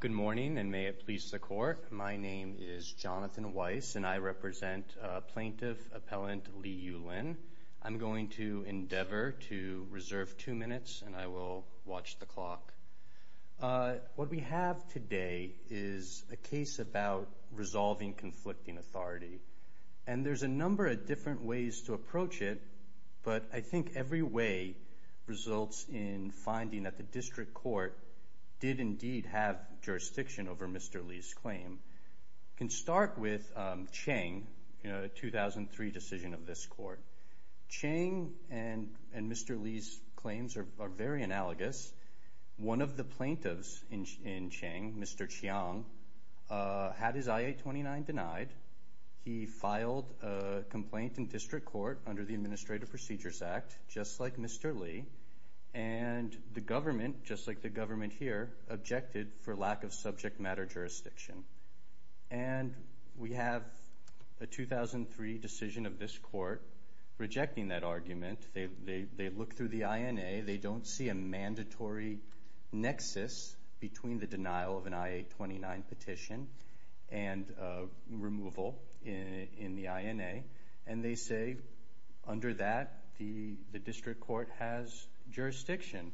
Good morning, and may it please the Court, my name is Jonathan Weiss, and I represent Plaintiff Appellant Li Yulin. I'm going to endeavor to reserve two minutes, and I will watch the clock. What we have today is a case about resolving conflicting authority, and there's a number of different ways to approach it, but I think every way results in finding that the District Court did indeed have jurisdiction over Mr. Li's claim. We can start with Cheng, a 2003 decision of this Court. Cheng and Mr. Li's claims are very analogous. One of the plaintiffs in Cheng, Mr. Chiang, had his I-829 denied. He filed a complaint in District Court under the Administrative Procedures Act, just like Mr. Li, and the government, just like the government here, objected for lack of subject matter jurisdiction. We have a 2003 decision of this Court rejecting that argument. They look through the INA. They don't see a mandatory nexus between the denial of an I-829 petition and removal in the INA, and they say, under that, the District Court has jurisdiction.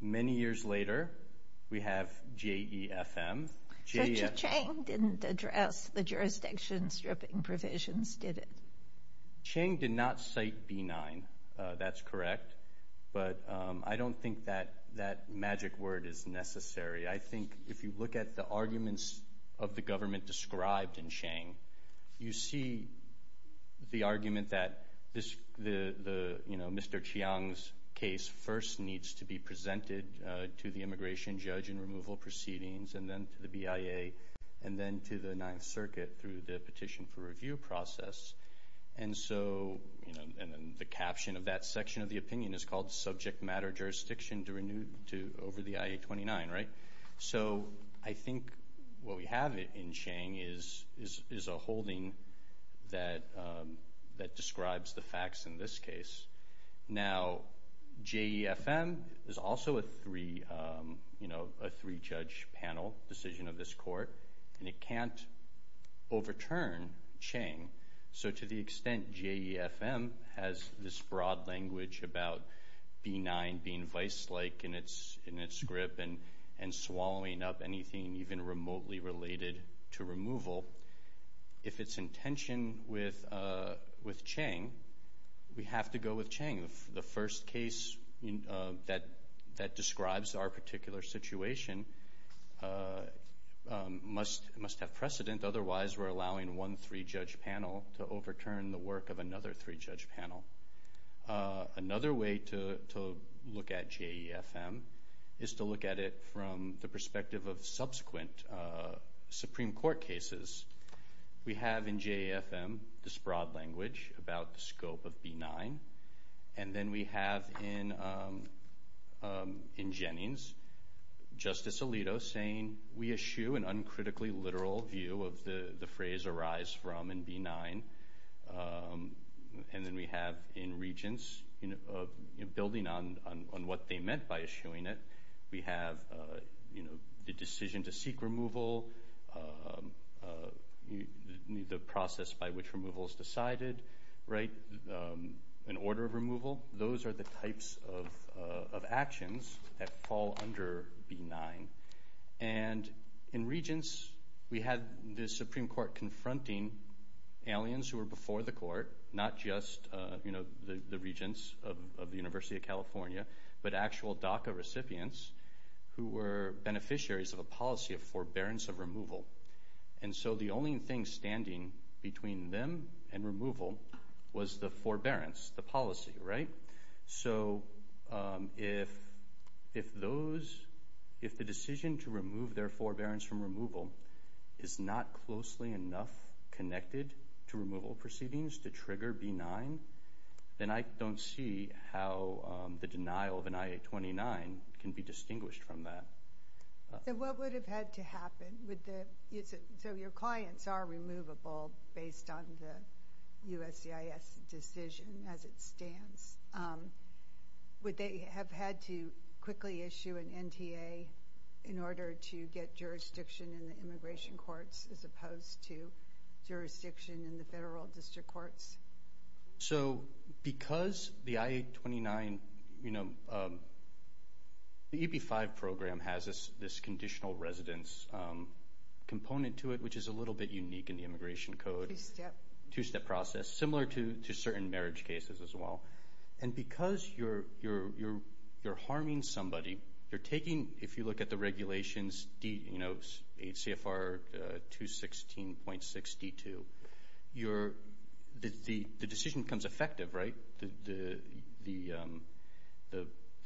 Many years later, we have J-E-F-M, J-E-F-M. Cheng didn't address the jurisdiction stripping provisions, did he? Cheng did not cite B-9. That's correct, but I don't think that magic word is necessary. I think if you look at the arguments of the government described in Cheng, you see the argument that Mr. Chiang's case first needs to be presented to the immigration judge and removal proceedings, and then to the BIA, and then to the Ninth Circuit through the INA, and then the caption of that section of the opinion is called subject matter jurisdiction to renew over the I-829, right? I think what we have in Cheng is a holding that describes the facts in this case. Now, J-E-F-M is also a three-judge panel decision of this Court, and it can't overturn Cheng, so to the extent J-E-F-M has this broad language about B-9 being vice-like in its grip and swallowing up anything even remotely related to removal, if it's in tension with Cheng, we have to go with Cheng. The first case that describes our particular situation must have precedent, otherwise we're to overturn the work of another three-judge panel. Another way to look at J-E-F-M is to look at it from the perspective of subsequent Supreme Court cases. We have in J-E-F-M this broad language about the scope of B-9, and then we have in Jennings, Justice Alito saying, we eschew an uncritically literal view of the phrase arise from in B-9 and then we have in Regents building on what they meant by eschewing it. We have the decision to seek removal, the process by which removal is decided, an order of removal. Those are the types of actions that fall under B-9. And in Regents, we had the Supreme Court confronting aliens who were before the court, not just the Regents of the University of California, but actual DACA recipients who were beneficiaries of a policy of forbearance of removal. And so the only thing standing between them and removal was the forbearance, the policy. So if the decision to remove their forbearance from removal is not closely enough connected to removal proceedings to trigger B-9, then I don't see how the denial of an I-829 can be distinguished from that. What would have had to happen? So your clients are removable based on the USCIS decision as it stands. Would they have had to quickly issue an NTA in order to get jurisdiction in the immigration courts as opposed to jurisdiction in the federal district courts? So because the I-829, you know, the EB-5 program has this conditional residence component to it, which is a little bit unique in the Immigration Code, two-step process, similar to certain marriage cases as well. And because you're harming somebody, you're taking, if you look at the regulations, you 16.62. The decision becomes effective, right?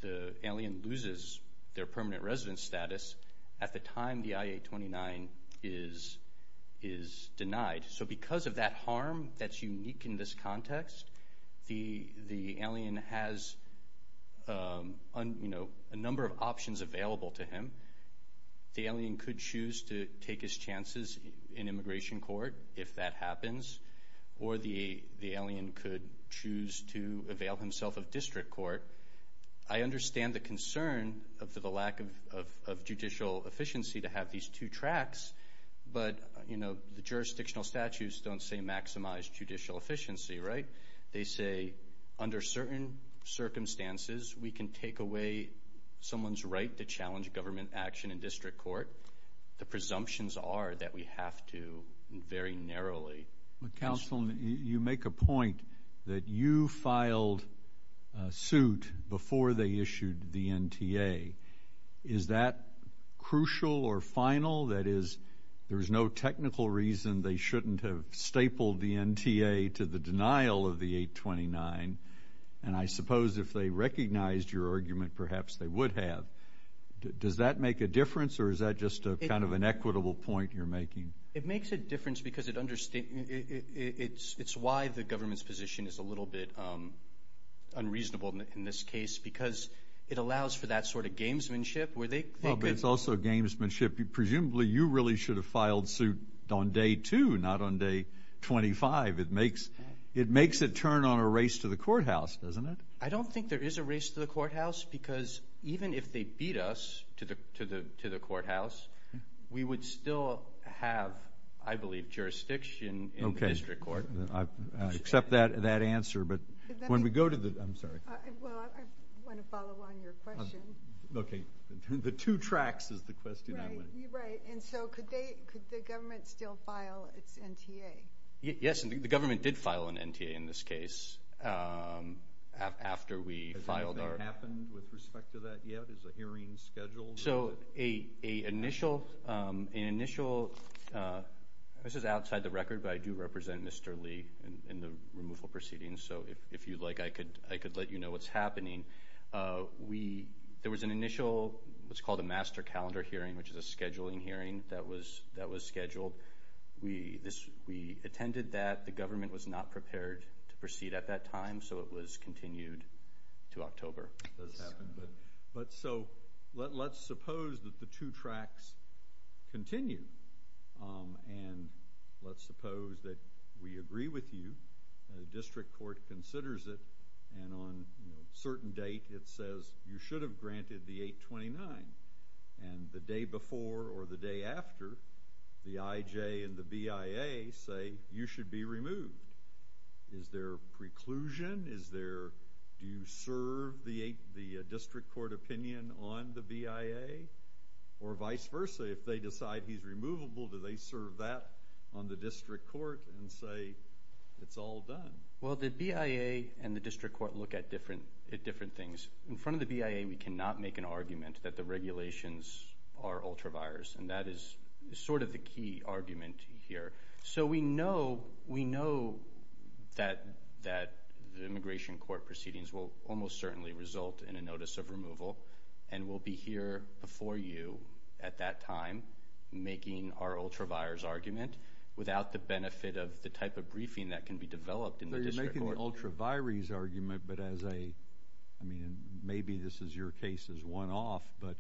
The alien loses their permanent residence status at the time the I-829 is denied. So because of that harm that's unique in this context, the alien has, you know, a number of options available to him. The alien could choose to take his chances in immigration court if that happens, or the alien could choose to avail himself of district court. I understand the concern of the lack of judicial efficiency to have these two tracks, but, you know, the jurisdictional statutes don't say maximize judicial efficiency, right? They say, under certain circumstances, we can take away someone's right to challenge government action in district court. The presumptions are that we have to very narrowly. But, counsel, you make a point that you filed suit before they issued the NTA. Is that crucial or final? That is, there is no technical reason they shouldn't have stapled the NTA to the denial of the 829. And I suppose if they recognized your argument, perhaps they would have. Does that make a difference, or is that just kind of an equitable point you're making? It makes a difference because it's why the government's position is a little bit unreasonable in this case, because it allows for that sort of gamesmanship, where they could... Well, but it's also gamesmanship. Presumably you really should have filed suit on day two, not on day 25. It makes it turn on a race to the courthouse, doesn't it? I don't think there is a race to the courthouse, because even if they beat us to the courthouse, we would still have, I believe, jurisdiction in the district court. Okay. I accept that answer. But when we go to the... I'm sorry. Well, I want to follow on your question. Okay. The two tracks is the question I want... Right. Right. And so could the government still file its NTA? Yes. The government did file an NTA in this case, after we filed our... Has anything happened with respect to that yet? Is a hearing scheduled? So an initial... This is outside the record, but I do represent Mr. Lee in the removal proceedings. So if you'd like, I could let you know what's happening. There was an initial... It was called a master calendar hearing, which is a scheduling hearing that was scheduled. We attended that. The government was not prepared to proceed at that time, so it was continued to October. But so let's suppose that the two tracks continue. And let's suppose that we agree with you. The district court considers it. And on a certain date, it says, you should have granted the 829. And the day before or the day after, the IJ and the BIA say, you should be removed. Is there preclusion? Is there... Do you serve the district court opinion on the BIA? Or vice versa, if they decide he's removable, do they serve that on the district court and say, it's all done? Well, the BIA and the district court look at different things. In front of the BIA, we cannot make an argument that the regulations are ultraviores. And that is sort of the key argument here. So we know that the immigration court proceedings will almost certainly result in a notice of removal. And we'll be here before you at that time making our ultraviores argument, without the benefit of the type of briefing that can be developed in the district court. Not an ultraviores argument, but as a... I mean, maybe this is your case as one-off, but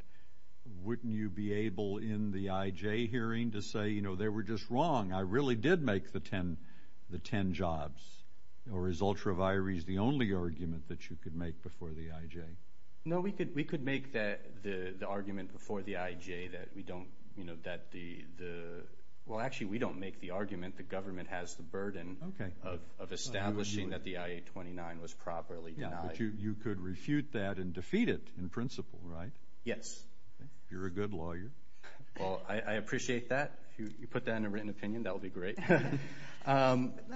wouldn't you be able in the IJ hearing to say, you know, they were just wrong. I really did make the 10 jobs. Or is ultraviores the only argument that you could make before the IJ? No, we could make the argument before the IJ that we don't, you know, that the... Well, actually, we don't make the argument. The government has the burden of establishing that the I-829 was properly denied. But you could refute that and defeat it in principle, right? Yes. You're a good lawyer. Well, I appreciate that. If you put that in a written opinion, that would be great. Let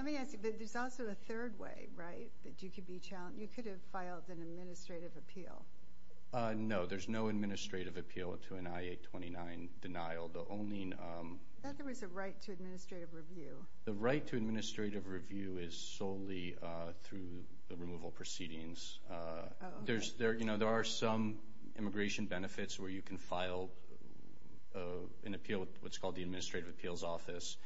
me ask you, but there's also a third way, right, that you could be challenged. You could have filed an administrative appeal. No, there's no administrative appeal to an I-829 denial. I thought there was a right to administrative review. The right to administrative review is solely through the removal proceedings. There are some immigration benefits where you can file an appeal with what's called the Administrative Appeals Office.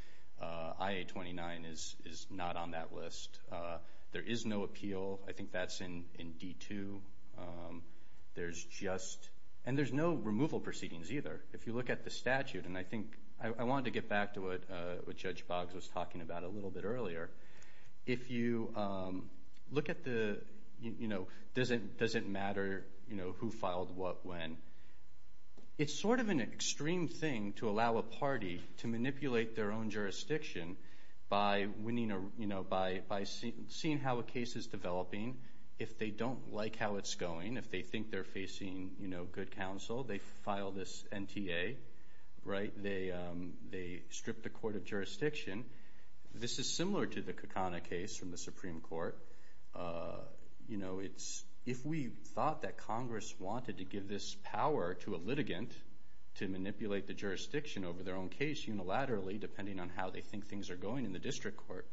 I-829 is not on that list. There is no appeal. I think that's in D-2. There's just... And there's no removal proceedings either. If you look at the statute, and I think... I wanted to get back to what Judge Boggs was talking about a little bit earlier. If you look at the... Does it matter who filed what when? It's sort of an extreme thing to allow a party to manipulate their own jurisdiction by seeing how a case is developing. If they don't like how it's going, if they think they're facing good counsel, they file this NTA, right? They strip the court of jurisdiction. This is similar to the Kakana case from the Supreme Court. If we thought that Congress wanted to give this power to a litigant to manipulate the jurisdiction over their own case unilaterally, depending on how they think things are going in the district court,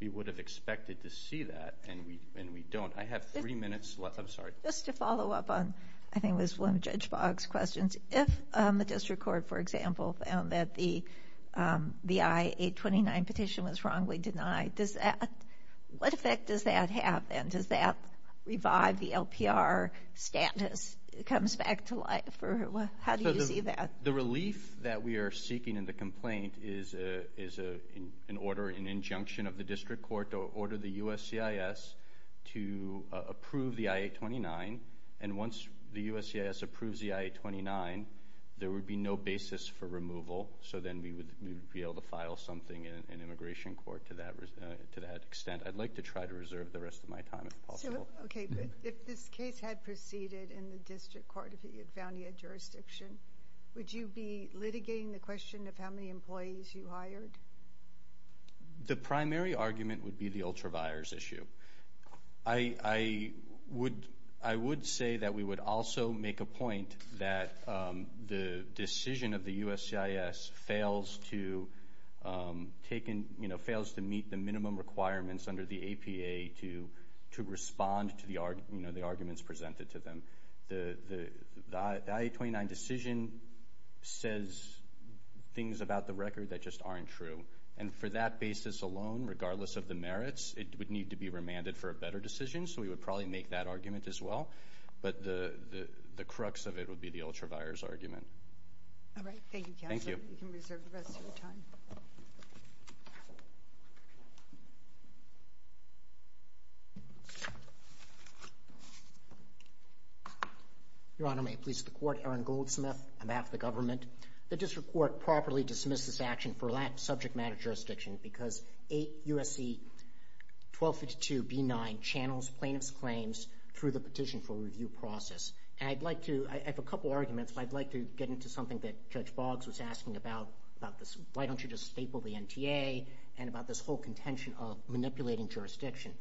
we would have expected to see that, and we don't. I have three minutes left. I'm sorry. Just to follow up on... I think it was one of Judge Boggs' questions. If the district court, for example, found that the I-829 petition was wrongly denied, what effect does that have, and does that revive the LPR status? It comes back to life. How do you see that? The relief that we are seeking in the complaint is an order, an injunction of the district court to order the USCIS to approve the I-829. Once the USCIS approves the I-829, there would be no basis for removal. Then we would be able to file something in immigration court to that extent. I'd like to try to reserve the rest of my time, if possible. If this case had proceeded in the district court, if it had found you in jurisdiction, would you be litigating the question of how many employees you hired? The primary argument would be the ultra-buyers issue. I would say that we would also make a point that the decision of the USCIS fails to meet the minimum requirements under the APA to respond to the arguments presented to them. The I-829 decision says things about the record that just aren't true. For that basis alone, regardless of the merits, it would need to be remanded for a better decision, so we would probably make that argument as well. But the crux of it would be the ultra-buyers argument. All right. Thank you, counsel. Thank you. You can reserve the rest of your time. Your Honor, may it please the Court? Aaron Goldsmith on behalf of the government. The district court properly dismissed this action for that subject matter jurisdiction because 8 U.S.C. 1252b9 channels plaintiff's claims through the petition for review process. I have a couple arguments, but I'd like to get into something that Judge Boggs was asking about, about why don't you just staple the NTA and about this whole contention of manipulating jurisdiction.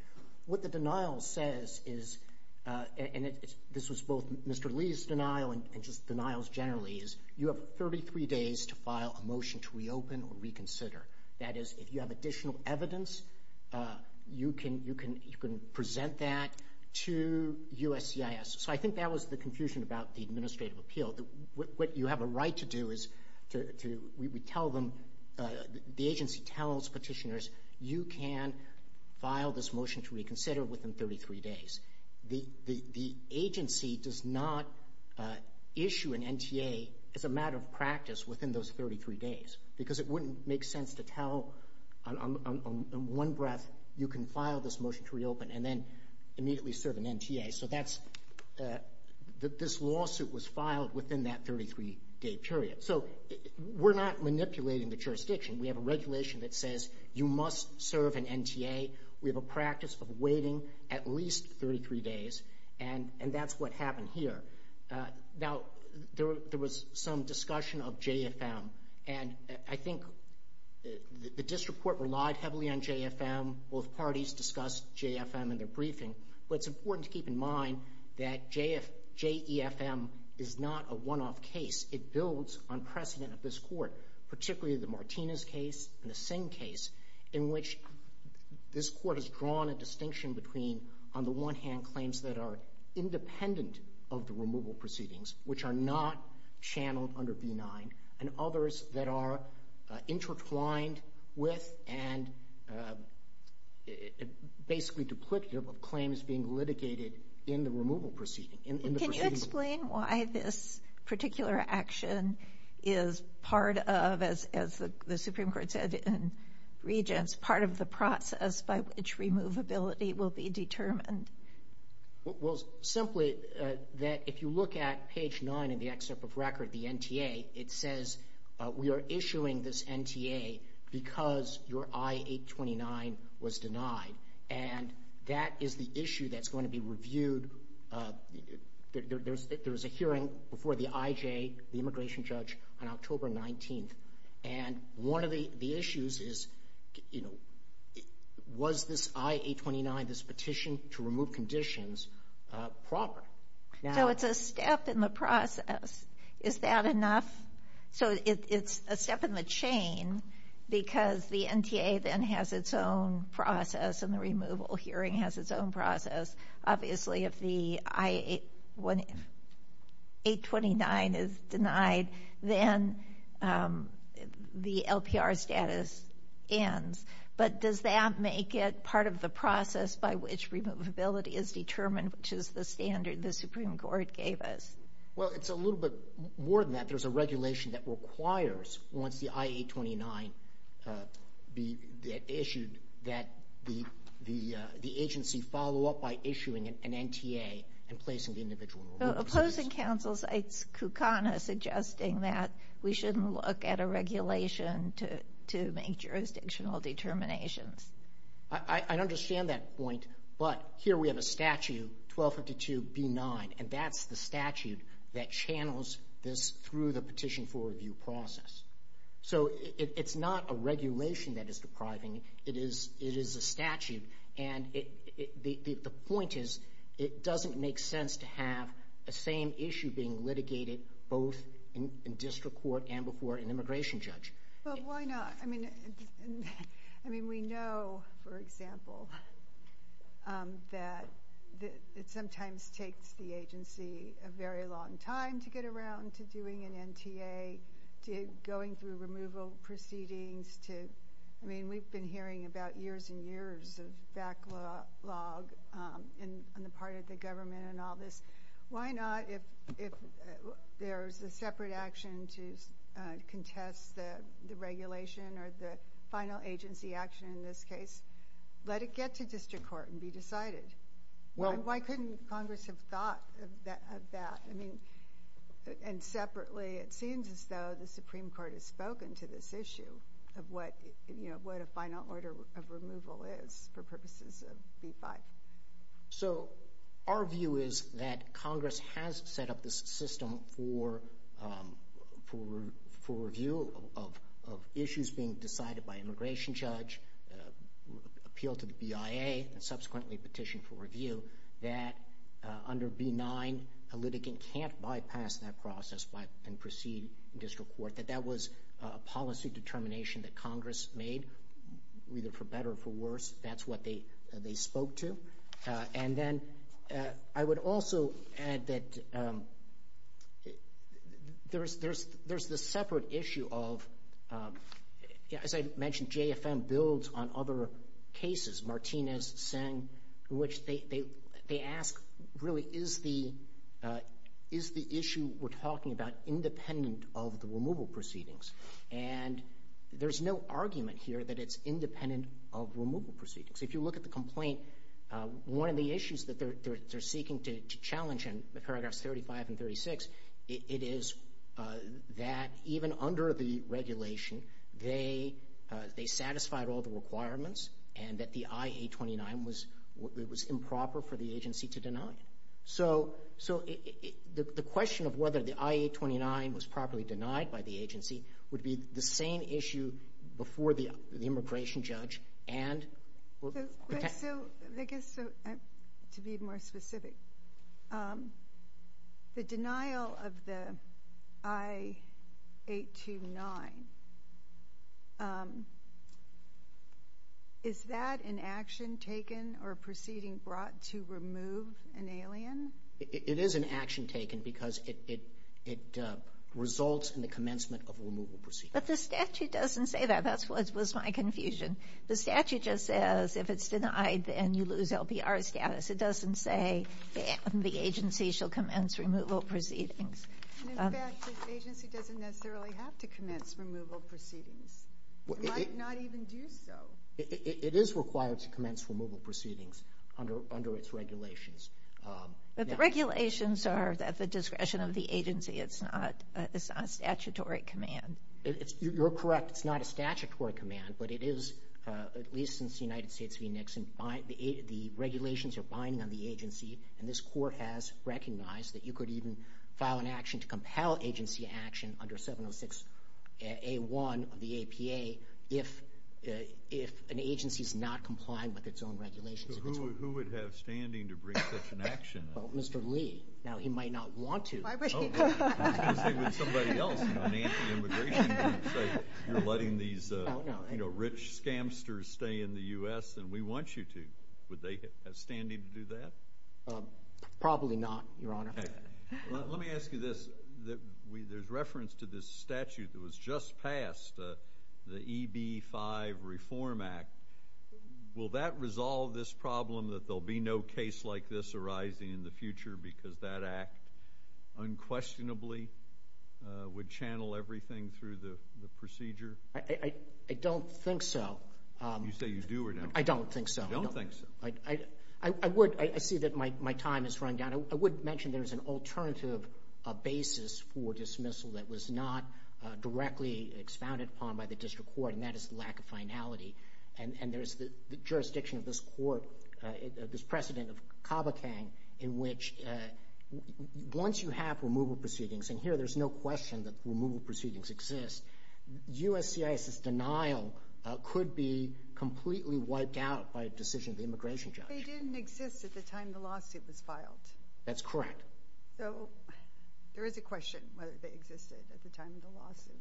What the denial says is, and this was both Mr. Lee's denial and just denials generally, is you have 33 days to file a motion to reopen or reconsider. That is, if you have additional evidence, you can present that to USCIS. So I think that was the confusion about the administrative appeal. What you have a right to do is to tell them, the agency tells petitioners, you can file this motion to reconsider within 33 days. The agency does not issue an NTA as a matter of practice within those 33 days because it wouldn't make sense to tell on one breath, you can file this motion to reopen and then immediately serve an NTA. So this lawsuit was filed within that 33-day period. So we're not manipulating the jurisdiction. We have a regulation that says you must serve an NTA. We have a practice of waiting at least 33 days, and that's what happened here. Now, there was some discussion of JFM, and I think the district court relied heavily on JFM. Both parties discussed JFM in their briefing. But it's important to keep in mind that JEFM is not a one-off case. It builds on precedent of this court, particularly the Martinez case and the Singh case, in which this court has drawn a distinction between, on the one hand, claims that are independent of the removal proceedings, which are not channeled under B-9, and others that are intertwined with and basically duplicative of claims being litigated in the removal proceeding. Can you explain why this particular action is part of, as the Supreme Court said in Regents, part of the process by which removability will be determined? Well, simply that if you look at page 9 in the excerpt of record, the NTA, it says we are issuing this NTA because your I-829 was denied. And that is the issue that's going to be reviewed. There was a hearing before the IJ, the immigration judge, on October 19th. And one of the issues is, you know, was this I-829, this petition to remove conditions, proper? So it's a step in the process. Is that enough? So it's a step in the chain because the NTA then has its own process, and the removal hearing has its own process. Obviously, if the I-829 is denied, then the LPR status ends. But does that make it part of the process by which removability is determined, which is the standard the Supreme Court gave us? Well, it's a little bit more than that. There's a regulation that requires, once the I-829 is issued, that the agency follow up by issuing an NTA and placing the individual in removal. Opposing counsel, it's Kukana suggesting that we shouldn't look at a regulation to make jurisdictional determinations. I understand that point, but here we have a statute, 1252b9, and that's the statute that channels this through the petition for review process. So it's not a regulation that is depriving. It is a statute. And the point is it doesn't make sense to have the same issue being litigated both in district court and before an immigration judge. Well, why not? I mean, we know, for example, that it sometimes takes the agency a very long time to get around to doing an NTA, to going through removal proceedings. I mean, we've been hearing about years and years of backlog on the part of the government and all this. Why not, if there's a separate action to contest the regulation or the final agency action in this case, let it get to district court and be decided? Why couldn't Congress have thought of that? I mean, and separately, it seems as though the Supreme Court has spoken to this issue of what a final order of removal is for purposes of B-5. So our view is that Congress has set up this system for review of issues being decided by immigration judge, appealed to the BIA, and subsequently petitioned for review, that under B-9, a litigant can't bypass that process and proceed in district court, that that was a policy determination that Congress made, either for better or for worse. That's what they spoke to. And then I would also add that there's the separate issue of, as I mentioned, JFM builds on other cases, Martinez, Singh, in which they ask, really, is the issue we're talking about independent of the removal proceedings? And there's no argument here that it's independent of removal proceedings. If you look at the complaint, one of the issues that they're seeking to challenge in the paragraphs 35 and 36, it is that even under the regulation, they satisfied all the requirements and that the I-829 was improper for the agency to deny it. So the question of whether the I-829 was properly denied by the agency would be the same issue before the immigration judge and— So I guess to be more specific, the denial of the I-829, is that an action taken or a proceeding brought to remove an alien? It is an action taken because it results in the commencement of a removal proceeding. But the statute doesn't say that. That was my confusion. The statute just says if it's denied, then you lose LPR status. It doesn't say the agency shall commence removal proceedings. In fact, the agency doesn't necessarily have to commence removal proceedings. It might not even do so. It is required to commence removal proceedings under its regulations. But the regulations are at the discretion of the agency. It's not a statutory command. You're correct. It's not a statutory command, but it is, at least since the United States v. Nixon, the regulations are binding on the agency, and this court has recognized that you could even file an action to compel agency action under 706A1 of the APA if an agency is not complying with its own regulations. Who would have standing to bring such an action? Mr. Lee. Now, he might not want to. I was going to say, would somebody else, an anti-immigration group, say you're letting these rich scamsters stay in the U.S. and we want you to? Would they have standing to do that? Probably not, Your Honor. Let me ask you this. There's reference to this statute that was just passed, the EB-5 Reform Act. Will that resolve this problem that there will be no case like this arising in the future because that act unquestionably would channel everything through the procedure? I don't think so. You say you do or don't? I don't think so. You don't think so? I would. I see that my time is running down. I would mention there's an alternative basis for dismissal that was not directly expounded upon by the district court, and that is the lack of finality. And there's the jurisdiction of this court, this precedent of CABACANG, in which once you have removal proceedings, and here there's no question that removal proceedings exist, USCIS's denial could be completely wiped out by a decision of the immigration judge. They didn't exist at the time the lawsuit was filed. That's correct. So there is a question whether they existed at the time of the lawsuit.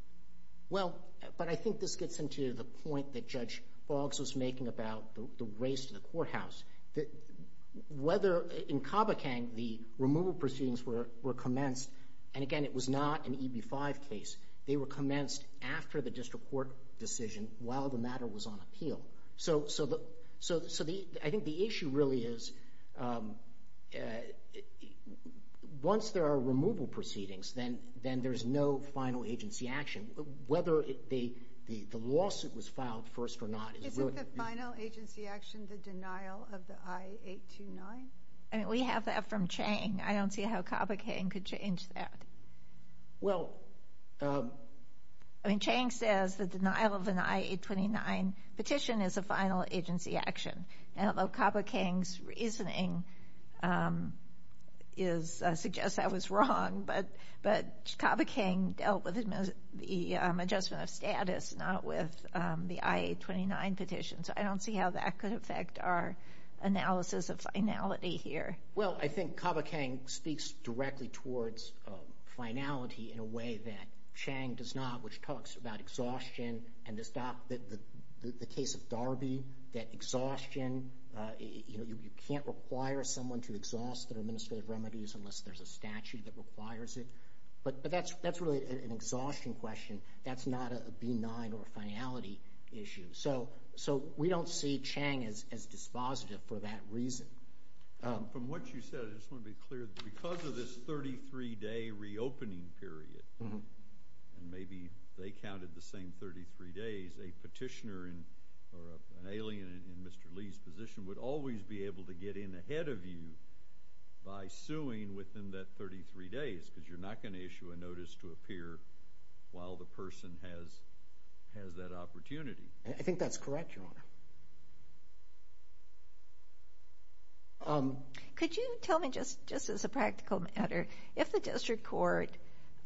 Well, but I think this gets into the point that Judge Boggs was making about the race to the courthouse. Whether in CABACANG the removal proceedings were commenced, and, again, it was not an EB-5 case. They were commenced after the district court decision while the matter was on appeal. So I think the issue really is, once there are removal proceedings, then there's no final agency action. Whether the lawsuit was filed first or not is really the issue. Isn't the final agency action the denial of the I-829? I mean, we have that from Chang. I don't see how CABACANG could change that. Well, I mean, Chang says the denial of an I-829 petition is a final agency action. Now, although CABACANG's reasoning suggests that was wrong, but CABACANG dealt with the adjustment of status, not with the I-829 petition. So I don't see how that could affect our analysis of finality here. Well, I think CABACANG speaks directly towards finality in a way that Chang does not, which talks about exhaustion and the case of Darby, that exhaustion, you know, you can't require someone to exhaust their administrative remedies unless there's a statute that requires it. But that's really an exhaustion question. That's not a B-9 or a finality issue. So we don't see Chang as dispositive for that reason. From what you said, I just want to be clear that because of this 33-day reopening period, and maybe they counted the same 33 days, a petitioner or an alien in Mr. Lee's position would always be able to get in ahead of you by suing within that 33 days because you're not going to issue a notice to appear while the person has that opportunity. I think that's correct, Your Honor. Could you tell me, just as a practical matter, if the district court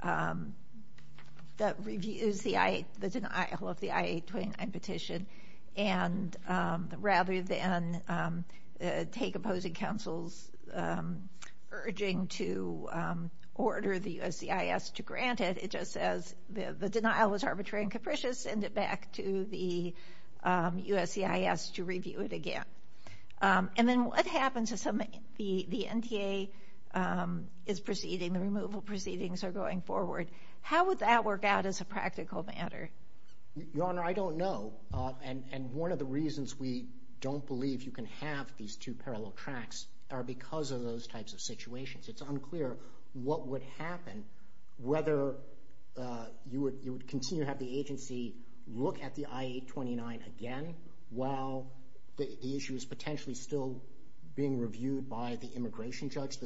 that reviews the denial of the I-829 petition, and rather than take opposing counsel's urging to order the USCIS to grant it, it just says the denial was arbitrary and capricious, send it back to the USCIS to review it again. And then what happens if the NTA is proceeding, the removal proceedings are going forward? How would that work out as a practical matter? Your Honor, I don't know. And one of the reasons we don't believe you can have these two parallel tracks are because of those types of situations. It's unclear what would happen, whether you would continue to have the agency look at the I-829 again while the issue is potentially still being reviewed by the immigration judge.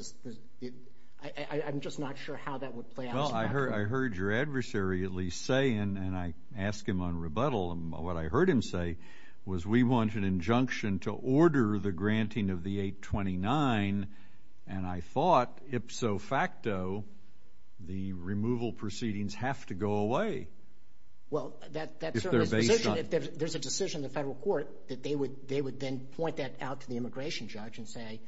I'm just not sure how that would play out as a practical matter. Well, I heard your adversary at least say, and I asked him on rebuttal, and what I heard him say was, we want an injunction to order the granting of the 829. And I thought, ipso facto, the removal proceedings have to go away. Well, that certainly is the position. If there's a decision in the federal court that they would then point that out to the immigration judge and say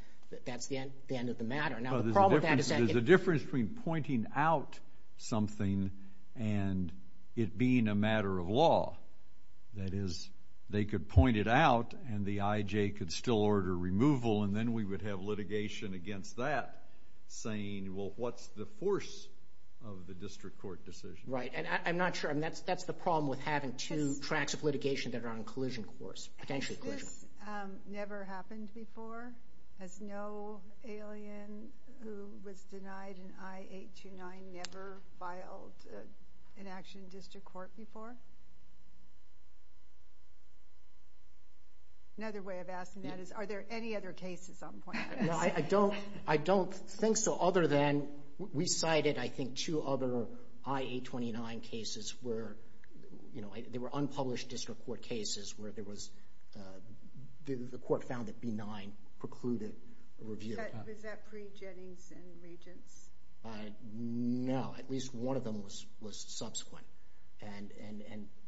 that's the end of the matter. Now, the problem with that is that— There's a difference between pointing out something and it being a matter of law. That is, they could point it out and the IJ could still order removal, and then we would have litigation against that saying, well, what's the force of the district court decision? Right, and I'm not sure. I mean, that's the problem with having two tracks of litigation that are on collision course, potentially collision. Has this never happened before? Has no alien who was denied an I-829 never filed an action in district court before? Another way of asking that is, are there any other cases on point? No, I don't think so, other than we cited, I think, two other I-829 cases where, you know, they were unpublished district court cases where there was—the court found that B-9 precluded a review. Was that pre-Jennings and Regents? No, at least one of them was subsequent and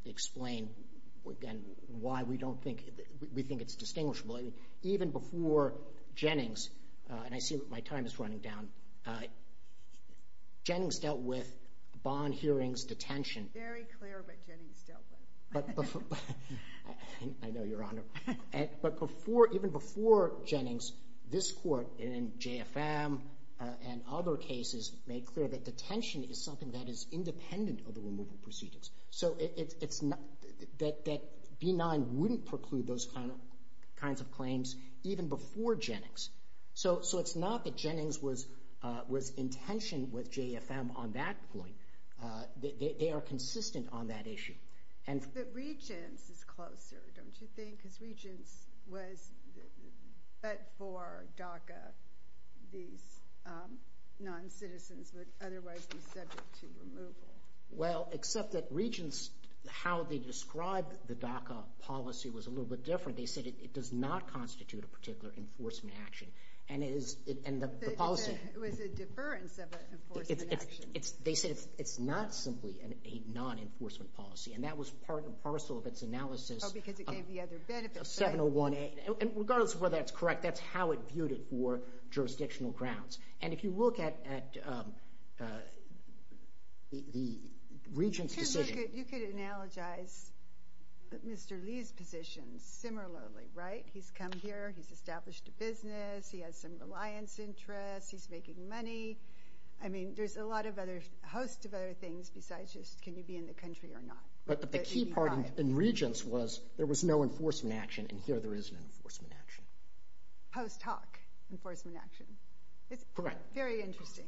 explained why we don't think—we think it's distinguishable. I mean, even before Jennings—and I see that my time is running down. Jennings dealt with bond hearings, detention. Very clear what Jennings dealt with. I know, Your Honor. But before—even before Jennings, this court in JFM and other cases made clear that detention is something that is independent of the removal proceedings. So it's not—that B-9 wouldn't preclude those kinds of claims even before Jennings. So it's not that Jennings was in tension with JFM on that point. They are consistent on that issue. But Regents is closer, don't you think? Because Regents was—but for DACA, these non-citizens would otherwise be subject to removal. Well, except that Regents, how they described the DACA policy was a little bit different. They said it does not constitute a particular enforcement action. And it is—and the policy— It was a deference of an enforcement action. They said it's not simply a non-enforcement policy. And that was part and parcel of its analysis— Oh, because it gave the other benefits, right? —of 701A. And regardless of whether that's correct, that's how it viewed it for jurisdictional grounds. And if you look at the Regents' decision— You could analogize Mr. Lee's position similarly, right? He's come here. He's established a business. He has some reliance interests. He's making money. I mean, there's a lot of other—a host of other things besides just can you be in the country or not. But the key part in Regents was there was no enforcement action, and here there is an enforcement action. Post hoc enforcement action. Correct. It's very interesting.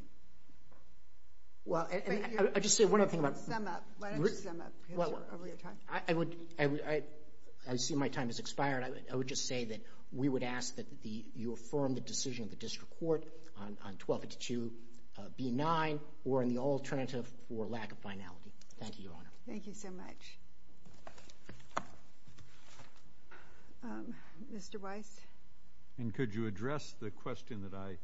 Well, and I would just say one other thing about— Sum up. Why don't you sum up? Because you're over your time. I would—I see my time has expired. I would just say that we would ask that you affirm the decision of the district court on 1282B9 or in the alternative for lack of finality. Thank you, Your Honor. Thank you so much. Mr. Weiss? And could you address the question that I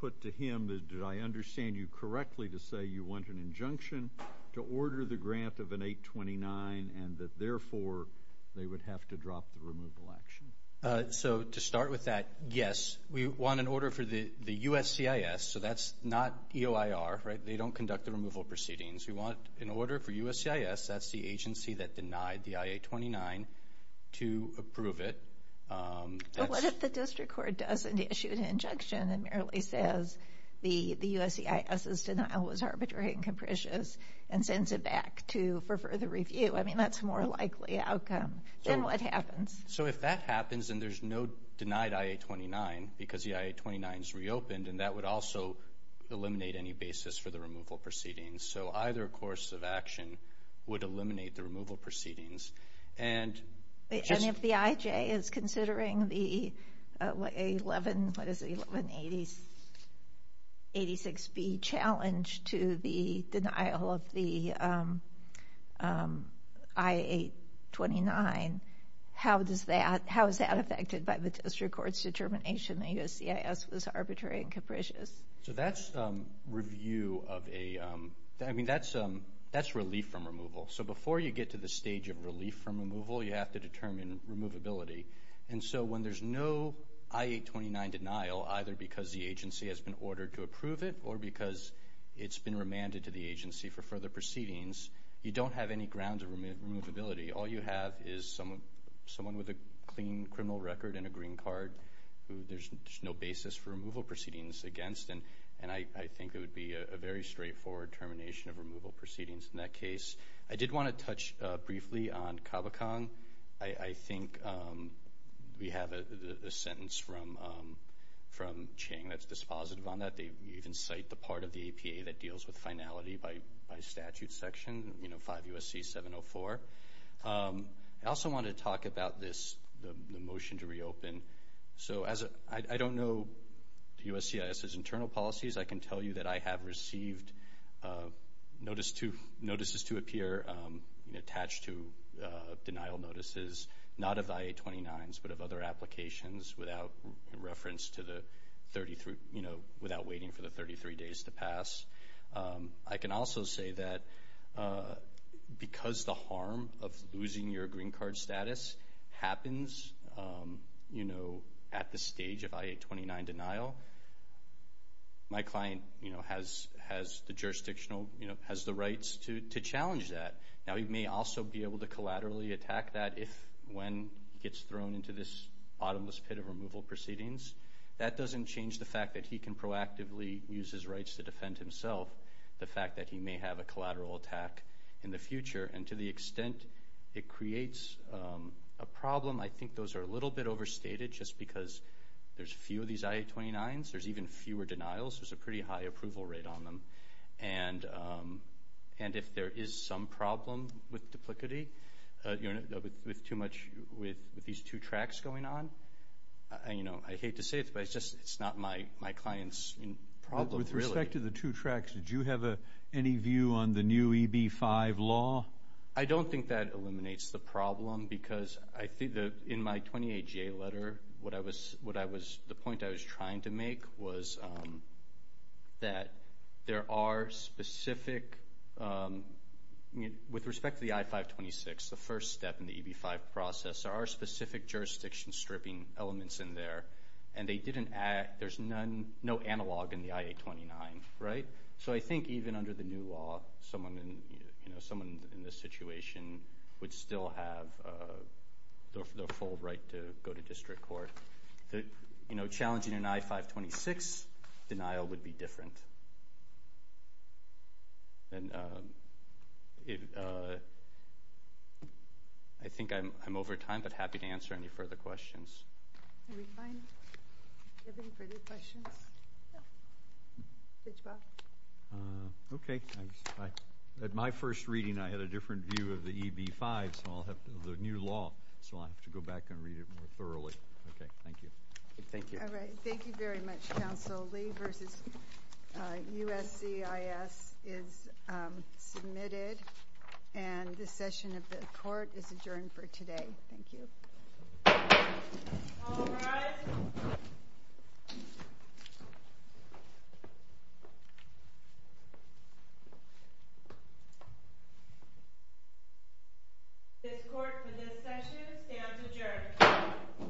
put to him? Did I understand you correctly to say you want an injunction to order the grant of an 829 and that therefore they would have to drop the removal action? So to start with that, yes. We want an order for the USCIS, so that's not EOIR, right? They don't conduct the removal proceedings. We want an order for USCIS, that's the agency that denied the I-829, to approve it. But what if the district court doesn't issue an injunction and merely says the USCIS's denial was arbitrary and capricious and sends it back for further review? I mean, that's a more likely outcome. Then what happens? So if that happens and there's no denied I-829 because the I-829 is reopened, and that would also eliminate any basis for the removal proceedings. So either course of action would eliminate the removal proceedings. And if the IJ is considering the 1186B challenge to the denial of the I-829, how is that affected by the district court's determination that USCIS was arbitrary and capricious? So that's review of a – I mean, that's relief from removal. So before you get to the stage of relief from removal, you have to determine removability. And so when there's no I-829 denial, either because the agency has been ordered to approve it or because it's been remanded to the agency for further proceedings, you don't have any grounds of removability. All you have is someone with a clean criminal record and a green card who there's no basis for removal proceedings against, and I think it would be a very straightforward termination of removal proceedings. In that case, I did want to touch briefly on CABACOM. I think we have a sentence from Chang that's dispositive on that. They even cite the part of the APA that deals with finality by statute section, you know, 5 U.S.C. 704. I also wanted to talk about this, the motion to reopen. So I don't know USCIS's internal policies. I can tell you that I have received notices to appear attached to denial notices, not of I-829s but of other applications without reference to the 33, you know, without waiting for the 33 days to pass. I can also say that because the harm of losing your green card status happens, you know, at the stage of I-829 denial, my client, you know, has the jurisdictional, you know, has the rights to challenge that. Now, he may also be able to collaterally attack that if when he gets thrown into this bottomless pit of removal proceedings. That doesn't change the fact that he can proactively use his rights to defend himself, the fact that he may have a collateral attack in the future. And to the extent it creates a problem, I think those are a little bit overstated, just because there's a few of these I-829s. There's even fewer denials. There's a pretty high approval rate on them. And if there is some problem with duplicity, you know, with too much with these two tracks going on, you know, I hate to say it, but it's just it's not my client's problem, really. With respect to the two tracks, did you have any view on the new EB-5 law? I don't think that eliminates the problem, because I think that in my 28-J letter, the point I was trying to make was that there are specific, with respect to the I-526, the first step in the EB-5 process, there are specific jurisdiction stripping elements in there, and they didn't add, there's no analog in the I-829, right? So I think even under the new law, someone in this situation would still have the full right to go to district court. You know, challenging an I-526 denial would be different. I think I'm over time, but happy to answer any further questions. Any further questions? Okay. At my first reading, I had a different view of the EB-5, the new law, so I'll have to go back and read it more thoroughly. Okay. Thank you. Thank you. All right. Thank you very much, Counsel Lee, versus USCIS is submitted, and the session of the court is adjourned for today. Thank you. All rise. This court for this session stands adjourned.